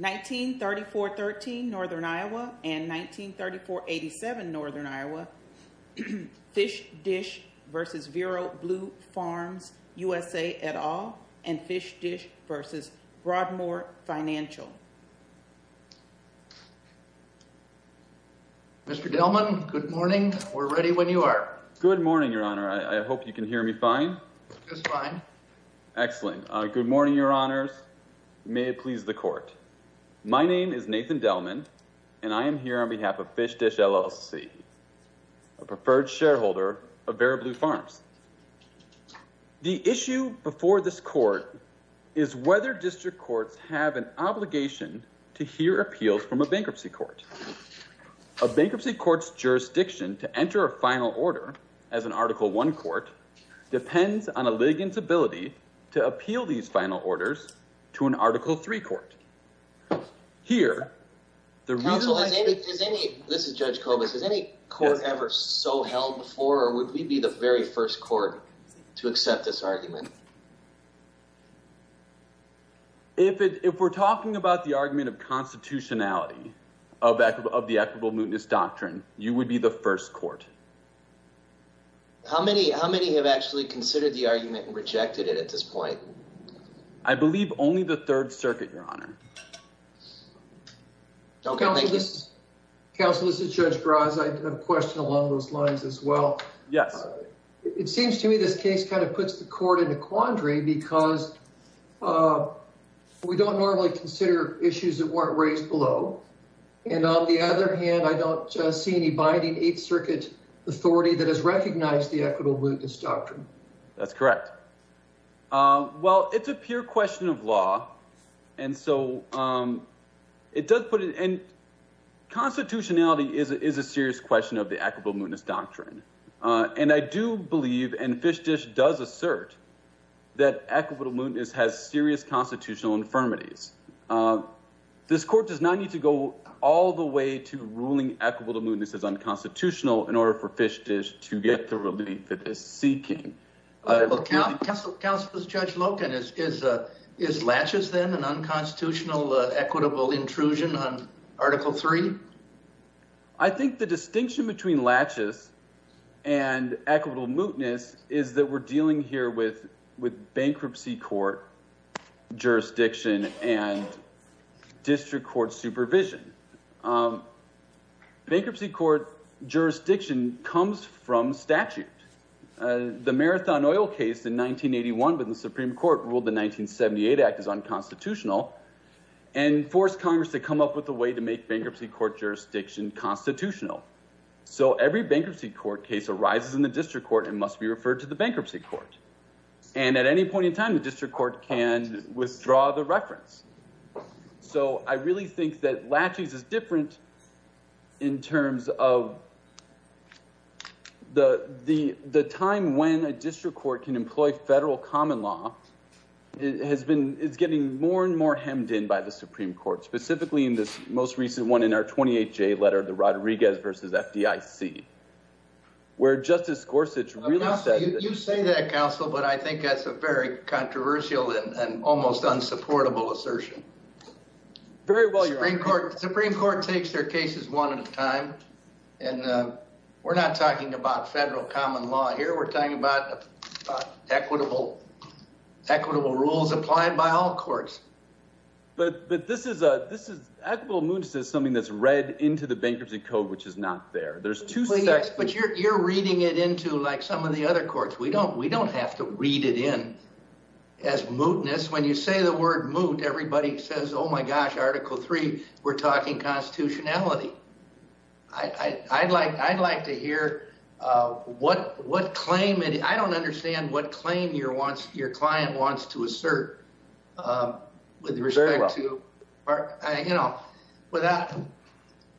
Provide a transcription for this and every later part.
1934-13 Northern Iowa and 1934-87 Northern Iowa, FishDish v. VeroBlue Farms USA, et al., and FishDish v. Broadmoor Financial. Mr. Delman, good morning. We're ready when you are. Good morning, Your Honor. I hope you can hear me fine. Just fine. Excellent. Good morning, Your Honors. May it please the Court. My name is Nathan Delman, and I am here on behalf of FishDish, LLC, a preferred shareholder of VeroBlue Farms. The issue before this Court is whether district courts have an obligation to hear appeals from a bankruptcy court. A bankruptcy court's jurisdiction to enter a final order as an Article I court depends on a litigant's ability to appeal these final orders to an Article III court. This is Judge Kobus. Has any court ever so held before, or would we be the very first court to accept this argument? If we're talking about the argument of constitutionality of the equitable mootness doctrine, you would be the first court. How many have actually considered the argument and rejected it at this point? I believe only the Third Circuit, Your Honor. Okay, thank you. Counsel, this is Judge Graz. I have a question along those lines as well. Yes. It seems to me this case kind of puts the Court in a quandary because we don't normally consider issues that weren't raised below. And on the other hand, I don't see any binding Eighth Circuit authority that has recognized the equitable mootness doctrine. That's correct. Well, it's a pure question of law. And so it does put it in. Constitutionality is a serious question of the equitable mootness doctrine. And I do believe, and Fishdish does assert, that equitable mootness has serious constitutional infirmities. This Court does not need to go all the way to ruling equitable mootness as unconstitutional in order for Fishdish to get the relief it is seeking. Counsel, this is Judge Loken. Is Latches, then, an unconstitutional equitable intrusion on Article 3? I think the distinction between Latches and equitable mootness is that we're dealing here with bankruptcy court jurisdiction and district court supervision. Um, bankruptcy court jurisdiction comes from statute. The Marathon Oil case in 1981 when the Supreme Court ruled the 1978 Act as unconstitutional and forced Congress to come up with a way to make bankruptcy court jurisdiction constitutional. So every bankruptcy court case arises in the district court and must be referred to the bankruptcy court. And at any point in time, the district court can withdraw the reference. So I really think that Latches is different in terms of the time when a district court can employ federal common law has been, is getting more and more hemmed in by the Supreme Court, specifically in this most recent one in our 28-J letter, the Rodriguez v. FDIC, where Justice Gorsuch really said... You say that, Counsel, but I think that's a very controversial and almost unsupportable assertion. Very well, Your Honor. The Supreme Court takes their cases one at a time. And, uh, we're not talking about federal common law here. We're talking about equitable, equitable rules applied by all courts. But, but this is, uh, this is, equitable mootness is something that's read into the bankruptcy code, which is not there. There's two sections. But you're, you're reading it into like some of the other courts. We don't, we don't have to read it in as mootness. When you say the word moot, everybody says, oh my gosh, article three, we're talking constitutionality. I, I, I'd like, I'd like to hear, uh, what, what claim it, I don't understand what claim your wants, your client wants to assert, um, with respect to, you know, without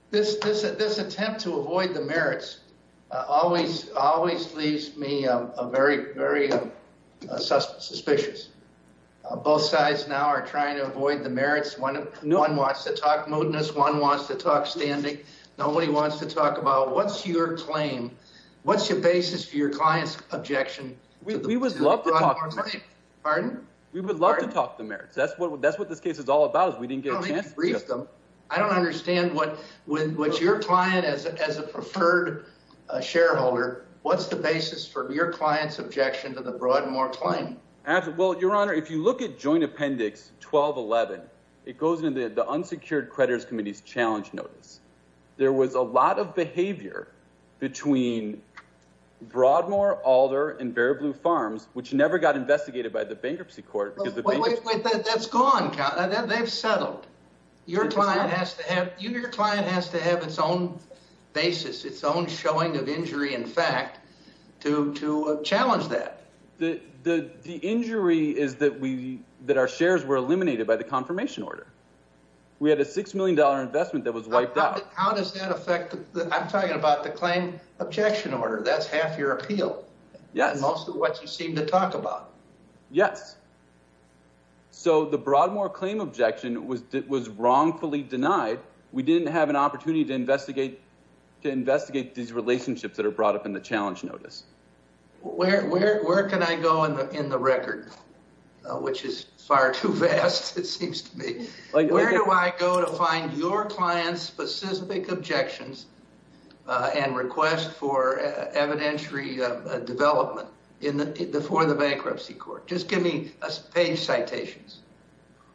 this, this, this attempt to avoid the merits, uh, always, always leaves me a very, very, uh, suspicious. Both sides now are trying to avoid the merits. One, one wants to talk mootness. One wants to talk standing. Nobody wants to talk about what's your claim. What's your basis for your client's objection? We would love to talk, pardon? We would love to talk the merits. That's what, that's what this case is all about is we didn't get a chance to brief them. I don't understand what, what your client as a, as a preferred shareholder, what's the basis for your client's objection to the Broadmoor claim? Well, your honor, if you look at joint appendix 1211, it goes into the unsecured creditors committee's challenge notice. There was a lot of behavior between Broadmoor, Alder, and very blue farms, which never got investigated by the bankruptcy court. Because that's gone, they've settled your client has to have your client has to have its own basis, its own showing of injury. In fact, to, to challenge that. The, the, the injury is that we, that our shares were eliminated by the confirmation order. We had a $6 million investment that was wiped out. How does that affect the, I'm talking about the claim objection order. That's half your appeal. Yes. Most of what you seem to talk about. Yes. So the Broadmoor claim objection was, was wrongfully denied. We didn't have an opportunity to investigate, to investigate these relationships that are brought up in the challenge notice. Where, where, where can I go in the, in the record, which is far too vast. It seems to me, where do I go to find your clients specific objections and request for evidentiary development in the, for the bankruptcy court? Just give me a page citations.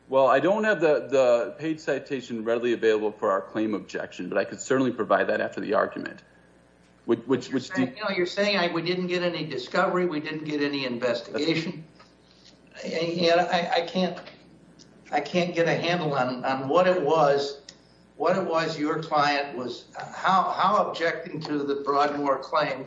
Well, I don't have the page citation readily available for our claim objection, but I could certainly provide that after the argument. Which, which you're saying, I, we didn't get any discovery. We didn't get any investigation. I can't, I can't get a handle on, on what it was, what it was. Your client was how, how objecting to the Broadmoor claim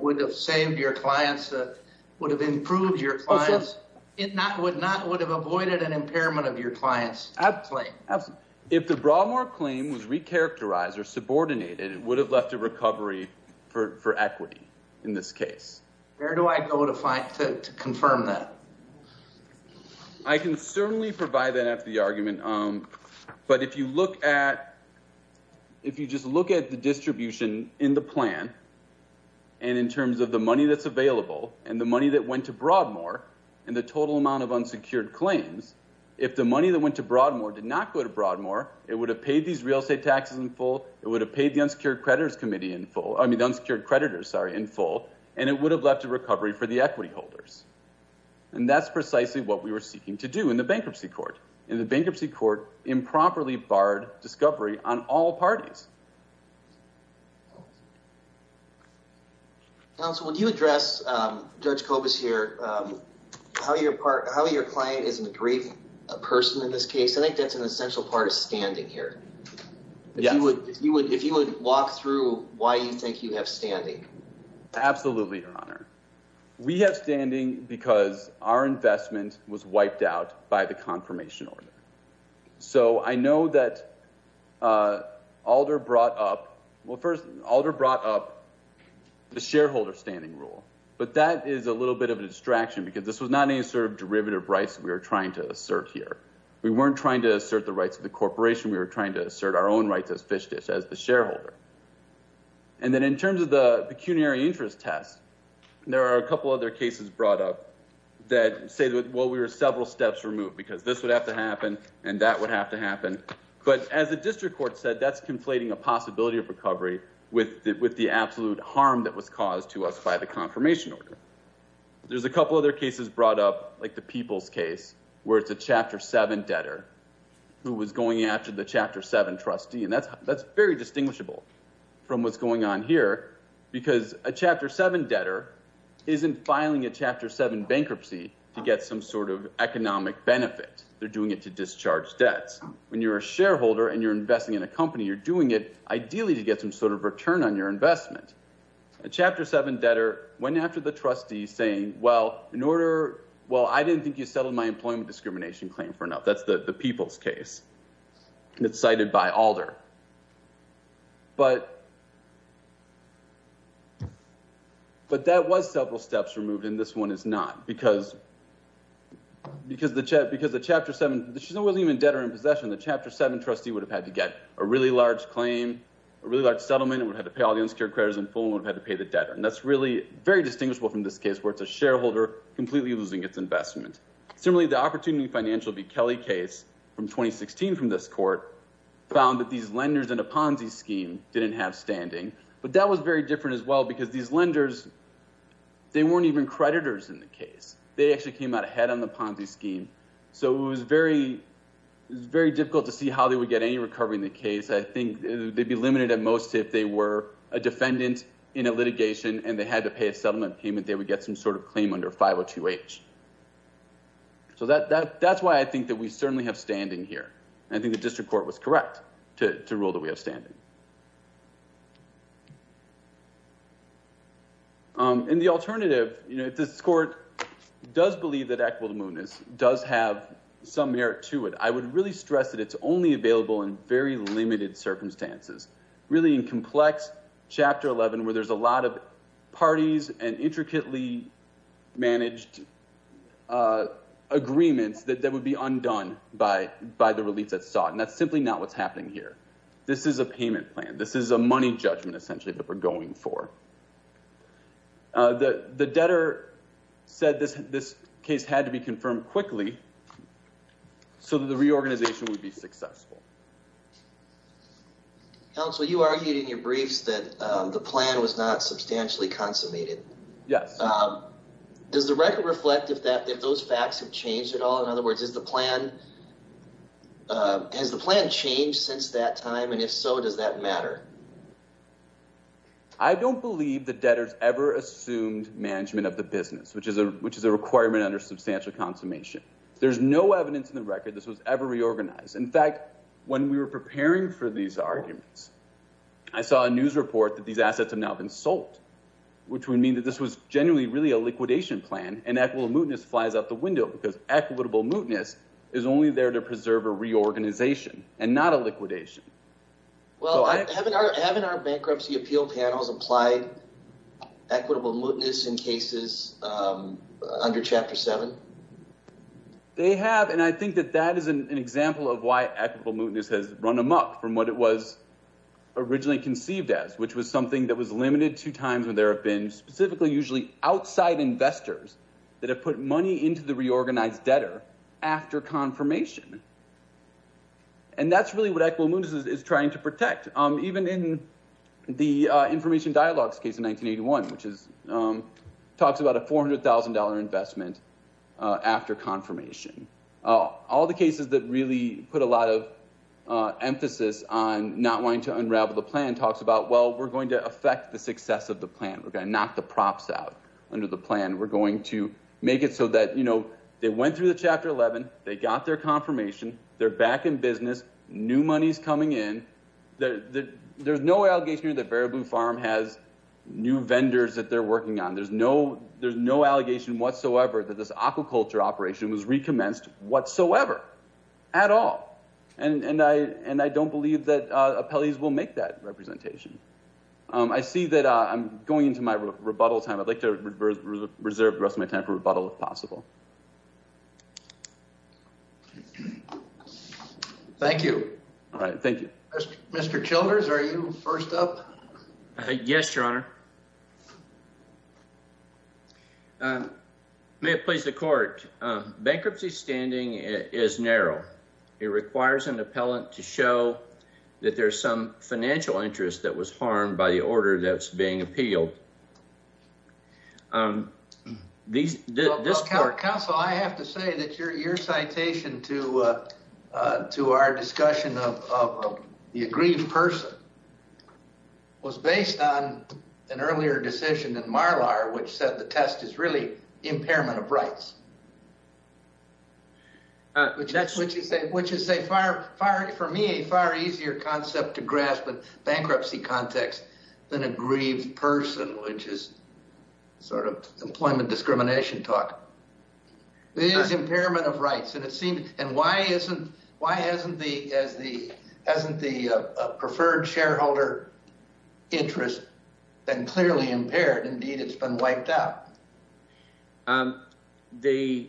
would have saved your clients that would have improved your clients. It not would not would have avoided an impairment of your clients. If the Broadmoor claim was recharacterized or subordinated, it would have left a recovery for equity in this case. Where do I go to find, to confirm that? I can certainly provide that after the argument. But if you look at, if you just look at the distribution in the plan, and in terms of the money that's available and the money that went to Broadmoor and the total amount of unsecured claims, if the money that went to Broadmoor did not go to Broadmoor, it would have paid these real estate taxes in full. It would have paid the unsecured creditors committee in full, I mean, the unsecured creditors, sorry, in full, and it would have left a recovery for the equity holders. And that's precisely what we were seeking to do in the bankruptcy court. In the bankruptcy court, improperly barred discovery on all parties. Counsel, would you address Judge Kobus here, how your part, how your client is an aggrieving person in this case? I think that's an essential part of standing here. If you would, if you would, if you would walk through why you think you have standing. Absolutely, your honor. We have standing because our investment was wiped out by the confirmation order. So I know that Alder brought up, well, first Alder brought up the shareholder standing rule, but that is a little bit of a distraction because this was not any sort of derivative rights that we were trying to assert here. We weren't trying to assert the rights of the corporation. We were trying to assert our own rights as fish dish, as the shareholder. And then in terms of the pecuniary interest test, there are a couple other cases brought up that say, well, we were several steps removed because this would have to happen and that would have to happen. But as the district court said, that's conflating a possibility of recovery with the absolute harm that was caused to us by the confirmation order. There's a couple other cases brought up, like the people's case, where it's a chapter seven debtor who was going after the chapter seven trustee. And that's very distinguishable from what's going on here because a chapter seven debtor isn't filing a chapter seven bankruptcy to get some sort of economic benefit. They're doing it to discharge debts. When you're a shareholder and you're investing in a company, you're doing it ideally to get some sort of return on your investment. A chapter seven debtor went after the trustee saying, well, in order, well, I didn't think you settled my employment discrimination claim for enough. That's the people's case. It's cited by Alder. But that was several steps removed, and this one is not because the chapter seven, she wasn't even a debtor in possession. The chapter seven trustee would have had to get a really large claim, a really large settlement, and would have to pay all the unsecured creditors in full and would have had to pay the debtor. And that's really very distinguishable from this case where it's a shareholder completely losing its investment. Similarly, the Opportunity Financial v. Kelly case from 2016 from this court found that these lenders in a Ponzi scheme didn't have standing. But that was very different as well because these lenders, they weren't even creditors in the case. They actually came out ahead on the Ponzi scheme. So it was very difficult to see how they would get any recovery in the case. I think they'd be limited at most if they were a defendant in a litigation and they had to pay a settlement payment, they would get some sort of claim under 502H. So that's why I think that we certainly have standing here. I think the district court was correct to rule that we have standing. And the alternative, if this court does believe that equitable movement does have some merit to it, I would really stress that it's only available in very limited circumstances. Really in complex chapter 11 where there's a lot of parties and intricately managed agreements that would be undone by the relief that's sought. And that's simply not what's happening here. This is a payment plan. This is a money judgment essentially that we're going for. The debtor said this case had to be confirmed quickly so that the reorganization would be successful. Counsel, you argued in your briefs that the plan was not substantially consummated. Yes. Does the record reflect if those facts have changed at all? In other words, has the plan changed since that time? And if so, does that matter? I don't believe that debtors ever assumed management of the business, which is a requirement under substantial consummation. There's no evidence in the record this was ever reorganized. In fact, when we were preparing for these arguments, I saw a news report that these really a liquidation plan and equitable mootness flies out the window because equitable mootness is only there to preserve a reorganization and not a liquidation. Well, haven't our bankruptcy appeal panels applied equitable mootness in cases under chapter 7? They have. And I think that that is an example of why equitable mootness has run amok from what it was originally conceived as, which was something that was limited to times when there have been specifically, usually outside investors that have put money into the reorganized debtor after confirmation. And that's really what equitable mootness is trying to protect. Even in the Information Dialogues case in 1981, which talks about a $400,000 investment after confirmation. All the cases that really put a lot of emphasis on not wanting to unravel the plan talks about, well, we're going to affect the success of the plan. We're going to knock the props out under the plan. We're going to make it so that they went through the chapter 11. They got their confirmation. They're back in business. New money's coming in. There's no allegation here that Variable Farm has new vendors that they're working on. There's no allegation whatsoever that this aquaculture operation was recommenced whatsoever at all. And I don't believe that appellees will make that representation. I see that I'm going into my rebuttal time. I'd like to reserve the rest of my time for rebuttal, if possible. Thank you. All right. Thank you. Mr. Childers, are you first up? Yes, Your Honor. May it please the Court. Bankruptcy standing is narrow. It requires an appellant to show that there's some financial interest that was harmed by the order that's being appealed. Counsel, I have to say that your citation to our discussion of the aggrieved person was based on an earlier decision in Marlar which said the test is really impairment of rights. That's what you say, which is a far, far, for me, a far easier concept to grasp in bankruptcy context than aggrieved person, which is sort of employment discrimination talk. It is impairment of rights. And it seemed, and why isn't, why hasn't the, as the, hasn't the preferred shareholder interest been clearly impaired? Indeed, it's been wiped out. The,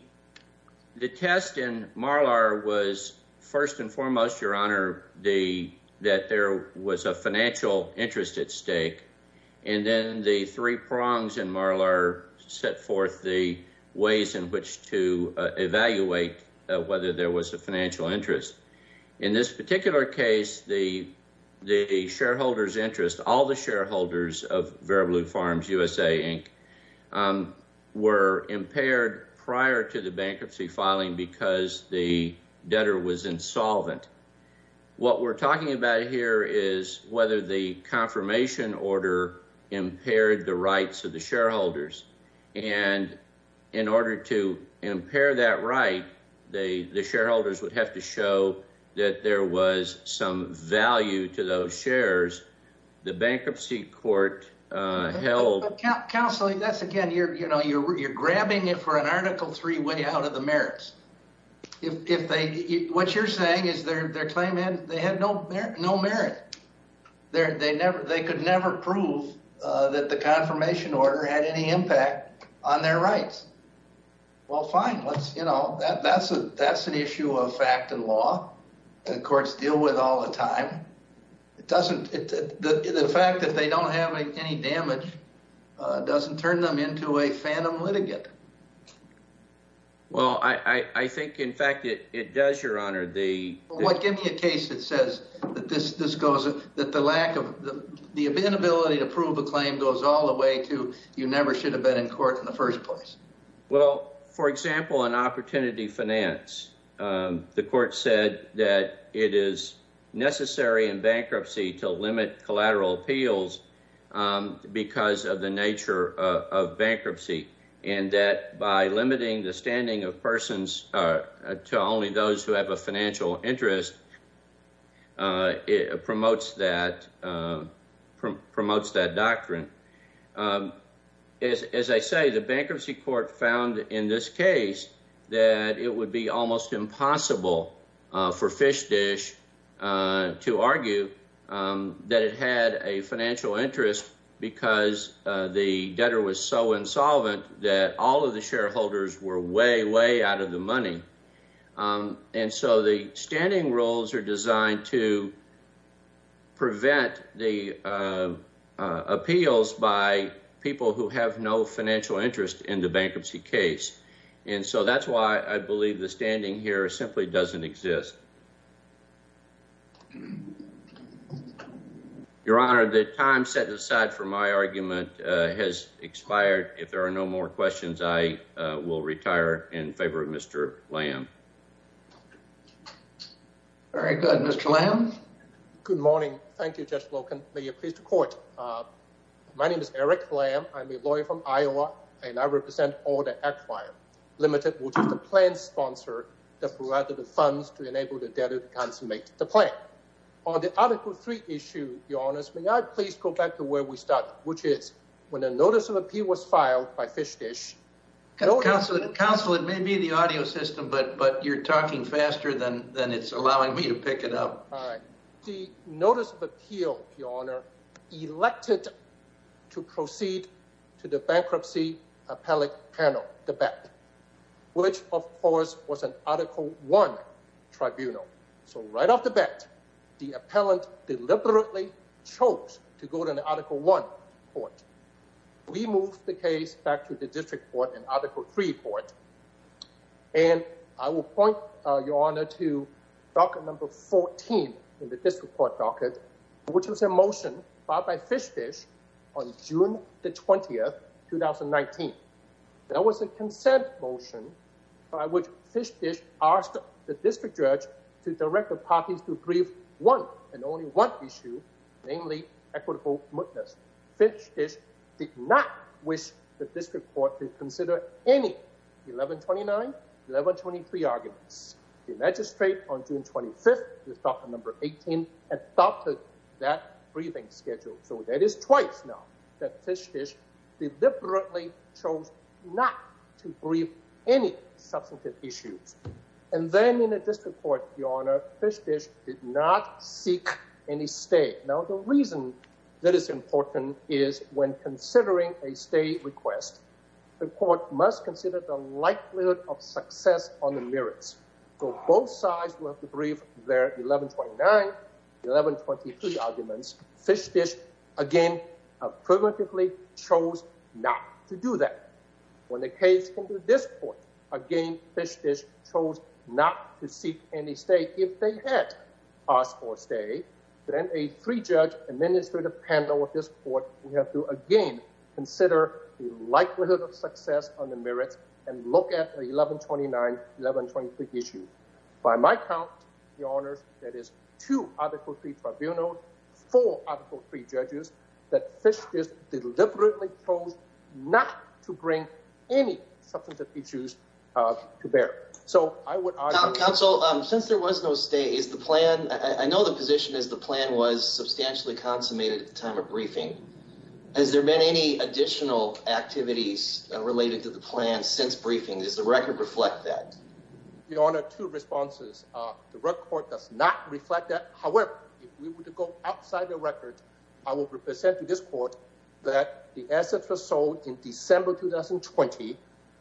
the test in Marlar was first and foremost, Your Honor, the, that there was a financial interest at stake. And then the three prongs in Marlar set forth the ways in which to evaluate whether there was a financial interest. In this particular case, the, the shareholder's interest, all the shareholders of Vera Blue Farms, USA, Inc., were impaired prior to the bankruptcy filing because the debtor was insolvent. What we're talking about here is whether the confirmation order impaired the rights of the shareholders. And in order to impair that right, the, the shareholders would have to show that there was some value to those shares. The bankruptcy court held. Counseling, that's again, you're, you know, you're, you're grabbing it for an article three way out of the merits. If, if they, what you're saying is their, their claim had, they had no, no merit. They're, they never, they could never prove that the confirmation order had any impact on their rights. Well, fine. Let's, you know, that, that's a, that's an issue of fact and law. And the courts deal with all the time. It doesn't, the fact that they don't have any damage doesn't turn them into a phantom litigant. Well, I, I think in fact it, it does, your honor, the. Well, give me a case that says that this, this goes, that the lack of the, the inability to prove a claim goes all the way to, you never should have been in court in the first place. Well, for example, an opportunity finance, the court said that it is necessary in bankruptcy to limit collateral appeals because of the nature of bankruptcy. And that by limiting the standing of persons to only those who have a financial interest, it promotes that promotes that doctrine. As, as I say, the bankruptcy court found in this case that it would be almost impossible for fish dish to argue that it had a financial interest because the debtor was so insolvent that all of the shareholders were way, way out of the money. Um, and so the standing rules are designed to prevent the, uh, uh, appeals by people who have no financial interest in the bankruptcy case. And so that's why I believe the standing here simply doesn't exist. Your honor, the time set aside for my argument has expired. If there are no more questions, I will retire in favor of Mr. Lamb. All right, good. Mr. Lamb. Good morning. Thank you, Judge. My name is Eric Lamb. I'm a lawyer from Iowa and I represent all the acquired limited, which is the plan sponsor that provided the funds to enable the debtor to consummate the plan. On the article three issue, your honors, may I please go back to where we started, which is when a notice of appeal was filed by fish dish. Counsel, it may be the audio system, but, but you're talking faster than, than it's allowing me to pick it up. All right. The notice of appeal, your honor, elected to proceed to the bankruptcy appellate panel, the bet, which of course was an article one tribunal. So right off the bat, the appellant deliberately chose to go to an article one court. We moved the case back to the district court and article three court. And I will point your honor to docket number 14 in the district court docket, which was a motion filed by fish dish on June the 20th, 2019. That was a consent motion by which fish dish asked the district judge to direct the parties to brief one and only one issue, namely equitable witness. Fish dish did not wish the district court to consider any 1129, 1123 arguments. The magistrate on June 25th with docket number 18 adopted that briefing schedule. So that is twice now that fish dish deliberately chose not to brief any substantive issues. And then in a district court, your honor fish dish did not seek any state. Now, the reason that is important is when considering a state request, the court must consider the likelihood of success on the merits. So both sides will have to brief their 1129, 1123 arguments. Fish dish, again, primitively chose not to do that. When the case came to this court, again, fish dish chose not to seek any state. If they had asked for a state, then a three judge administrative panel of this court, we have to again consider the likelihood of success on the merits and look at the 1129, 1123 issue. By my count, your honors, that is two article three tribunal, four article three judges that fish dish deliberately chose not to bring any substantive issues to bear. So I would argue- Counsel, since there was no state, is the plan, I know the position is the plan was substantially consummated at the time of briefing. Has there been any additional activities related to the plan since briefing? Does the record reflect that? Your honor, two responses. The record does not reflect that. However, if we were to go outside the record, I will represent to this court that the assets were sold in December 2020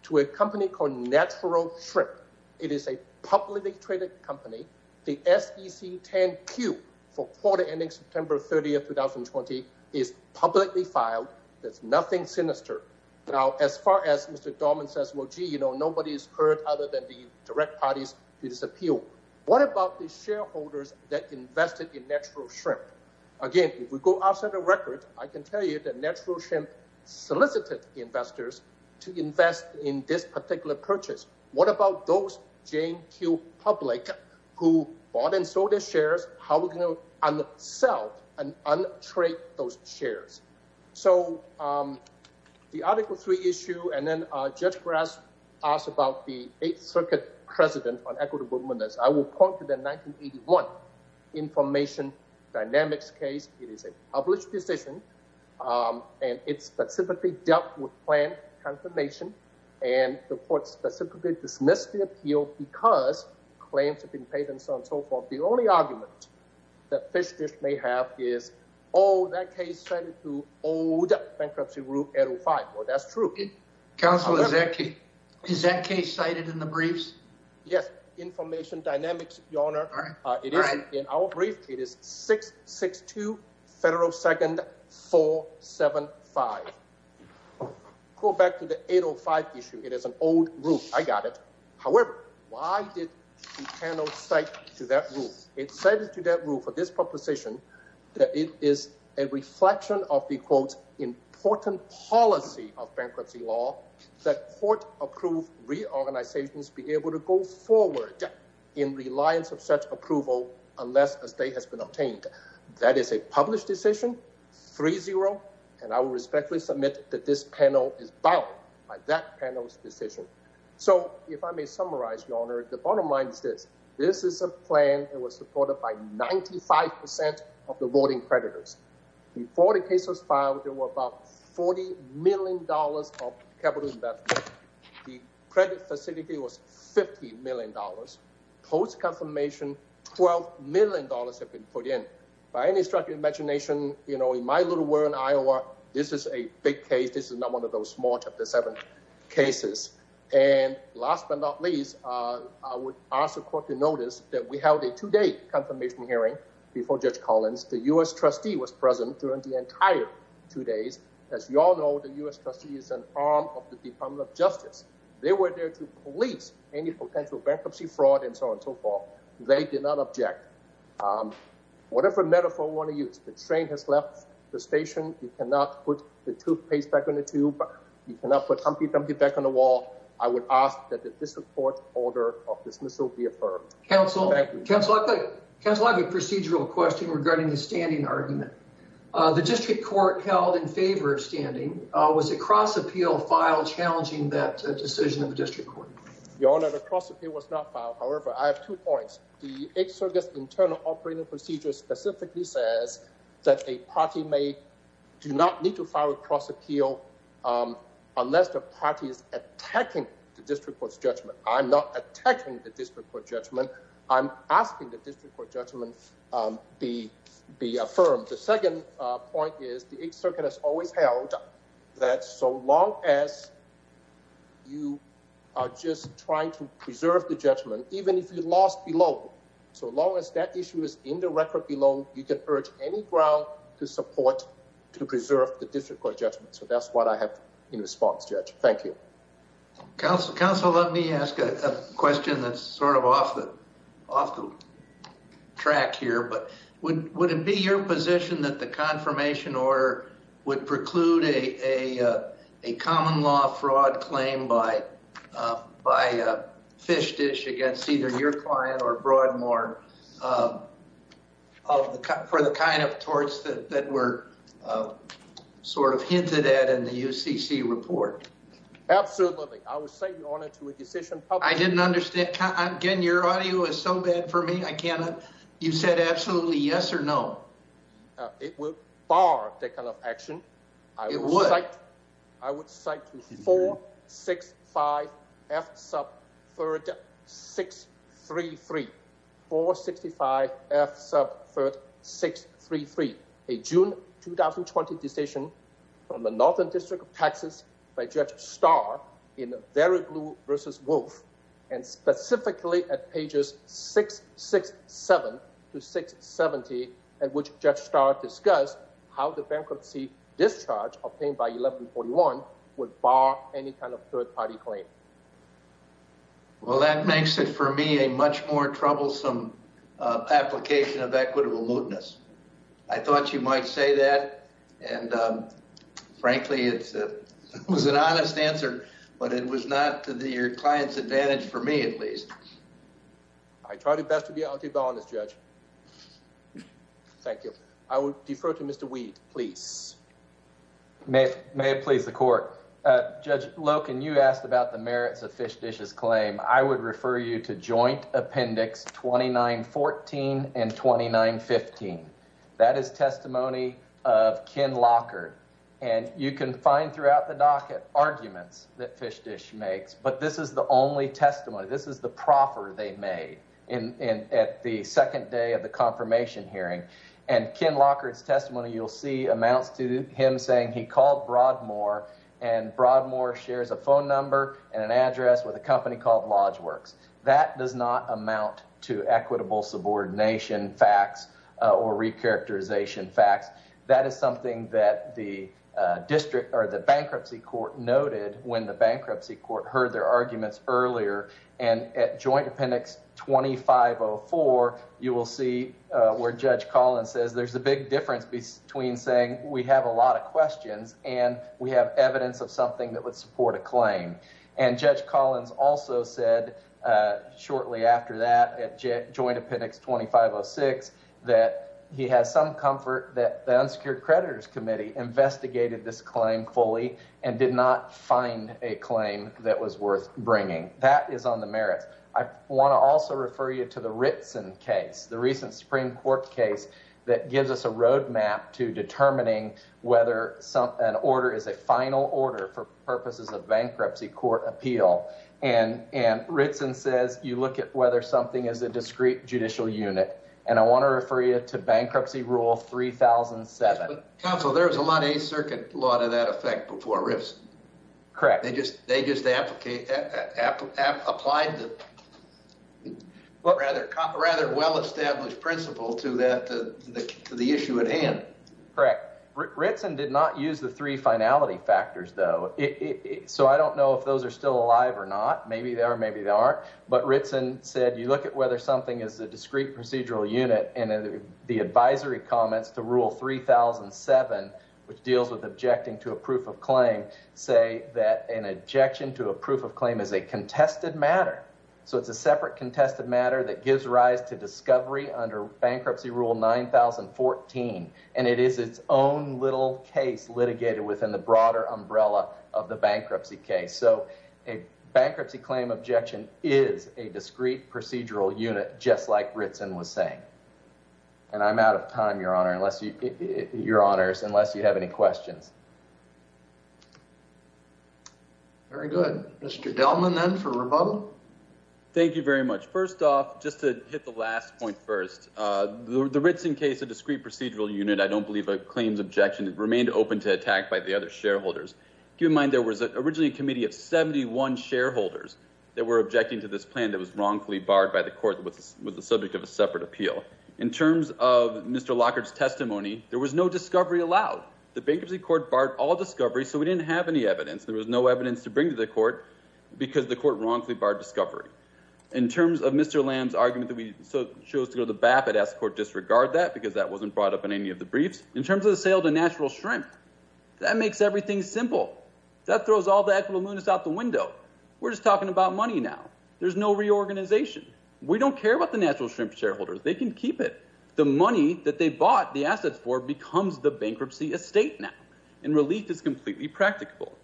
to a company called Natural Shrimp. It is a publicly traded company. The SEC 10Q for quarter ending September 30th, 2020 is publicly filed. That's nothing sinister. Now, as far as Mr. Dorman says, well, gee, you know, nobody's heard other than the direct parties to this appeal. What about the shareholders that invested in Natural Shrimp? Again, if we go outside the record, I can tell you that Natural Shrimp solicited investors to invest in this particular purchase. What about those 10Q public who bought and sold their shares? How are we going to unsell and untrade those shares? So the Article 3 issue and then Judge Grass asked about the 8th Circuit precedent on equitable movements. I will point to the 1981 Information Dynamics case. It is a published decision and it specifically dealt with plan confirmation and the court specifically dismissed the appeal because claims have been paid and so on and so forth. The only argument that Fish Dish may have is, oh, that case cited to old bankruptcy group 805. Well, that's true. Counsel, is that case cited in the briefs? Yes, Information Dynamics, Your Honor. All right. It is in our brief. It is 662 Federal 2nd 475. I'll go back to the 805 issue. It is an old rule. I got it. However, why did the panel cite to that rule? It cited to that rule for this proposition that it is a reflection of the, quote, important policy of bankruptcy law that court approved reorganizations be able to go forward in reliance of such approval unless a state has been obtained. That is a published decision, 3-0, and I will respectfully submit that this panel is bound by that panel's decision. So if I may summarize, Your Honor, the bottom line is this. This is a plan that was supported by 95% of the voting creditors. Before the case was filed, there were about $40 million of capital investment. The credit facility was $50 million. Post-confirmation, $12 million have been put in. By any stretch of imagination, you know, in my little world in Iowa, this is a big case. This is not one of those small Chapter 7 cases. And last but not least, I would ask the court to notice that we held a two-day confirmation hearing before Judge Collins. The U.S. trustee was present during the entire two days. As you all know, the U.S. trustee is an arm of the Department of Justice. They were there to police any potential bankruptcy fraud and so on and so forth. They did not object. Whatever metaphor you want to use, the train has left the station. You cannot put the toothpaste back in the tube. You cannot put Humpty Dumpty back on the wall. I would ask that the District Court's order of dismissal be affirmed. Thank you. Counsel, I have a procedural question regarding the standing argument. The District Court held in favor of standing. Was a cross-appeal filed challenging that decision of the District Court? Your Honor, the cross-appeal was not filed. However, I have two points. The Eighth Circuit's internal operating procedure specifically says that a party may do not need to file a cross-appeal unless the party is attacking the District Court's judgment. I'm not attacking the District Court judgment. I'm asking the District Court judgment be affirmed. The second point is the Eighth Circuit has always held that so long as you are just trying to preserve the judgment, even if you lost below, so long as that issue is in the record below, you can urge any ground to support to preserve the District Court judgment. So that's what I have in response, Judge. Thank you. Counsel, let me ask a question that's sort of off the track here. Would it be your position that the confirmation order would preclude a common law fraud claim by Fish Dish against either your client or Broadmoor for the kind of torts that were sort of hinted at in the UCC report? Absolutely. I would say, Your Honor, to a decision public. I didn't understand. Again, your audio is so bad for me. You said absolutely yes or no. It would bar that kind of action. It would. I would cite 465 F Sub 3rd 633. 465 F Sub 3rd 633, a June 2020 decision from the Northern District of Texas by Judge Starr in Variglou v. Wolf, and specifically at pages 667 to 670, at which Judge Starr discussed how the bankruptcy discharge obtained by 1141 would bar any kind of third-party claim. Well, that makes it for me a much more troublesome application of equitable mootness. I thought you might say that, and frankly, it was an honest answer. It was not to your client's advantage, for me at least. I try the best to be honest, Judge. Thank you. I would defer to Mr. Weed, please. May it please the Court. Judge Loken, you asked about the merits of Fish Dish's claim. I would refer you to Joint Appendix 2914 and 2915. That is testimony of Ken Lockard, and you can find throughout the docket arguments that Fish Dish makes, but this is the only testimony. This is the proffer they made at the second day of the confirmation hearing, and Ken Lockard's testimony you'll see amounts to him saying he called Broadmoor, and Broadmoor shares a phone number and an address with a company called Lodgeworks. That does not amount to equitable subordination facts or recharacterization facts. That is something that the Bankruptcy Court noted when the Bankruptcy Court heard their arguments earlier, and at Joint Appendix 2504, you will see where Judge Collins says there's a big difference between saying we have a lot of questions and we have evidence of something that would support a claim, and Judge Collins also said shortly after that at Joint Appendix 2506 that he has some comfort that the Unsecured Creditors Committee investigated this claim fully and did not find a claim that was worth bringing. That is on the merits. I want to also refer you to the Ritson case, the recent Supreme Court case that gives us a road map to determining whether an order is a final order for purposes of Bankruptcy Court appeal, and Ritson says you look at whether something is a discrete judicial unit, and I want to refer you to Bankruptcy Rule 3007. Counsel, there was a lot of Eighth Circuit law to that effect before Ritson. Correct. They just applied the rather well-established principle to the issue at hand. Correct. Ritson did not use the three finality factors, though, so I don't know if those are still alive or not. Maybe they are, maybe they aren't, but Ritson said you look at whether something is a discrete procedural unit, and the advisory comments to Rule 3007, which deals with objecting to a proof of claim, say that an objection to a proof of claim is a contested matter. So it's a separate contested matter that gives rise to discovery under Bankruptcy Rule 9014, and it is its own little case litigated within the broader umbrella of the bankruptcy case. A bankruptcy claim objection is a discrete procedural unit, just like Ritson was saying. And I'm out of time, Your Honor, unless you have any questions. Very good. Mr. Delman, then, for rebuttal. Thank you very much. First off, just to hit the last point first, the Ritson case, a discrete procedural unit, I don't believe a claims objection, remained open to attack by the other shareholders. Keep in mind there was originally a committee of 71 shareholders that were objecting to this plan that was wrongfully barred by the court, that was the subject of a separate appeal. In terms of Mr. Lockhart's testimony, there was no discovery allowed. The Bankruptcy Court barred all discovery, so we didn't have any evidence. There was no evidence to bring to the court, because the court wrongfully barred discovery. In terms of Mr. Lamb's argument that we chose to go to the BAP, I'd ask the court to disregard that, because that wasn't brought up in any of the briefs. In terms of the sale to Natural Shrimp, that makes everything simple. That throws all the equitableness out the window. We're just talking about money now. There's no reorganization. We don't care about the Natural Shrimp shareholders. They can keep it. The money that they bought the assets for becomes the bankruptcy estate now, and relief is completely practicable.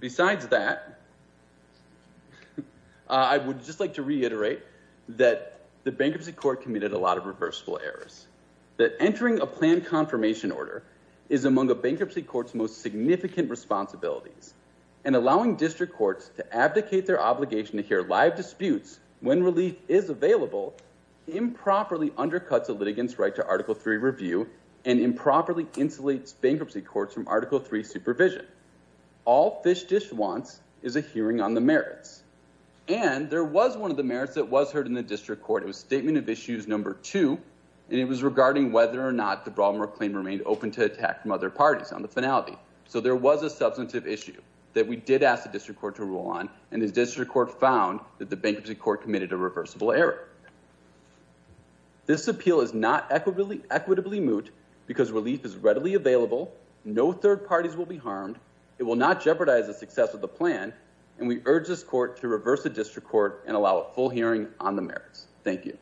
Besides that, I would just like to reiterate that the Bankruptcy Court committed a lot of reversible errors, that entering a planned confirmation order is among the Bankruptcy Court's most significant responsibilities, and allowing district courts to abdicate their obligation to hear live disputes when relief is available improperly undercuts a litigant's right to Article III review insulates Bankruptcy Courts from Article III supervision. All Fish Dish wants is a hearing on the merits. And there was one of the merits that was heard in the district court. It was Statement of Issues No. 2, and it was regarding whether or not the Baltimore claim remained open to attack from other parties on the finality. So there was a substantive issue that we did ask the district court to rule on, and the district court found that the Bankruptcy Court committed a reversible error. This appeal is not equitably moot because relief is readily available, no third parties will be harmed, it will not jeopardize the success of the plan, and we urge this court to reverse the district court and allow a full hearing on the merits. Thank you.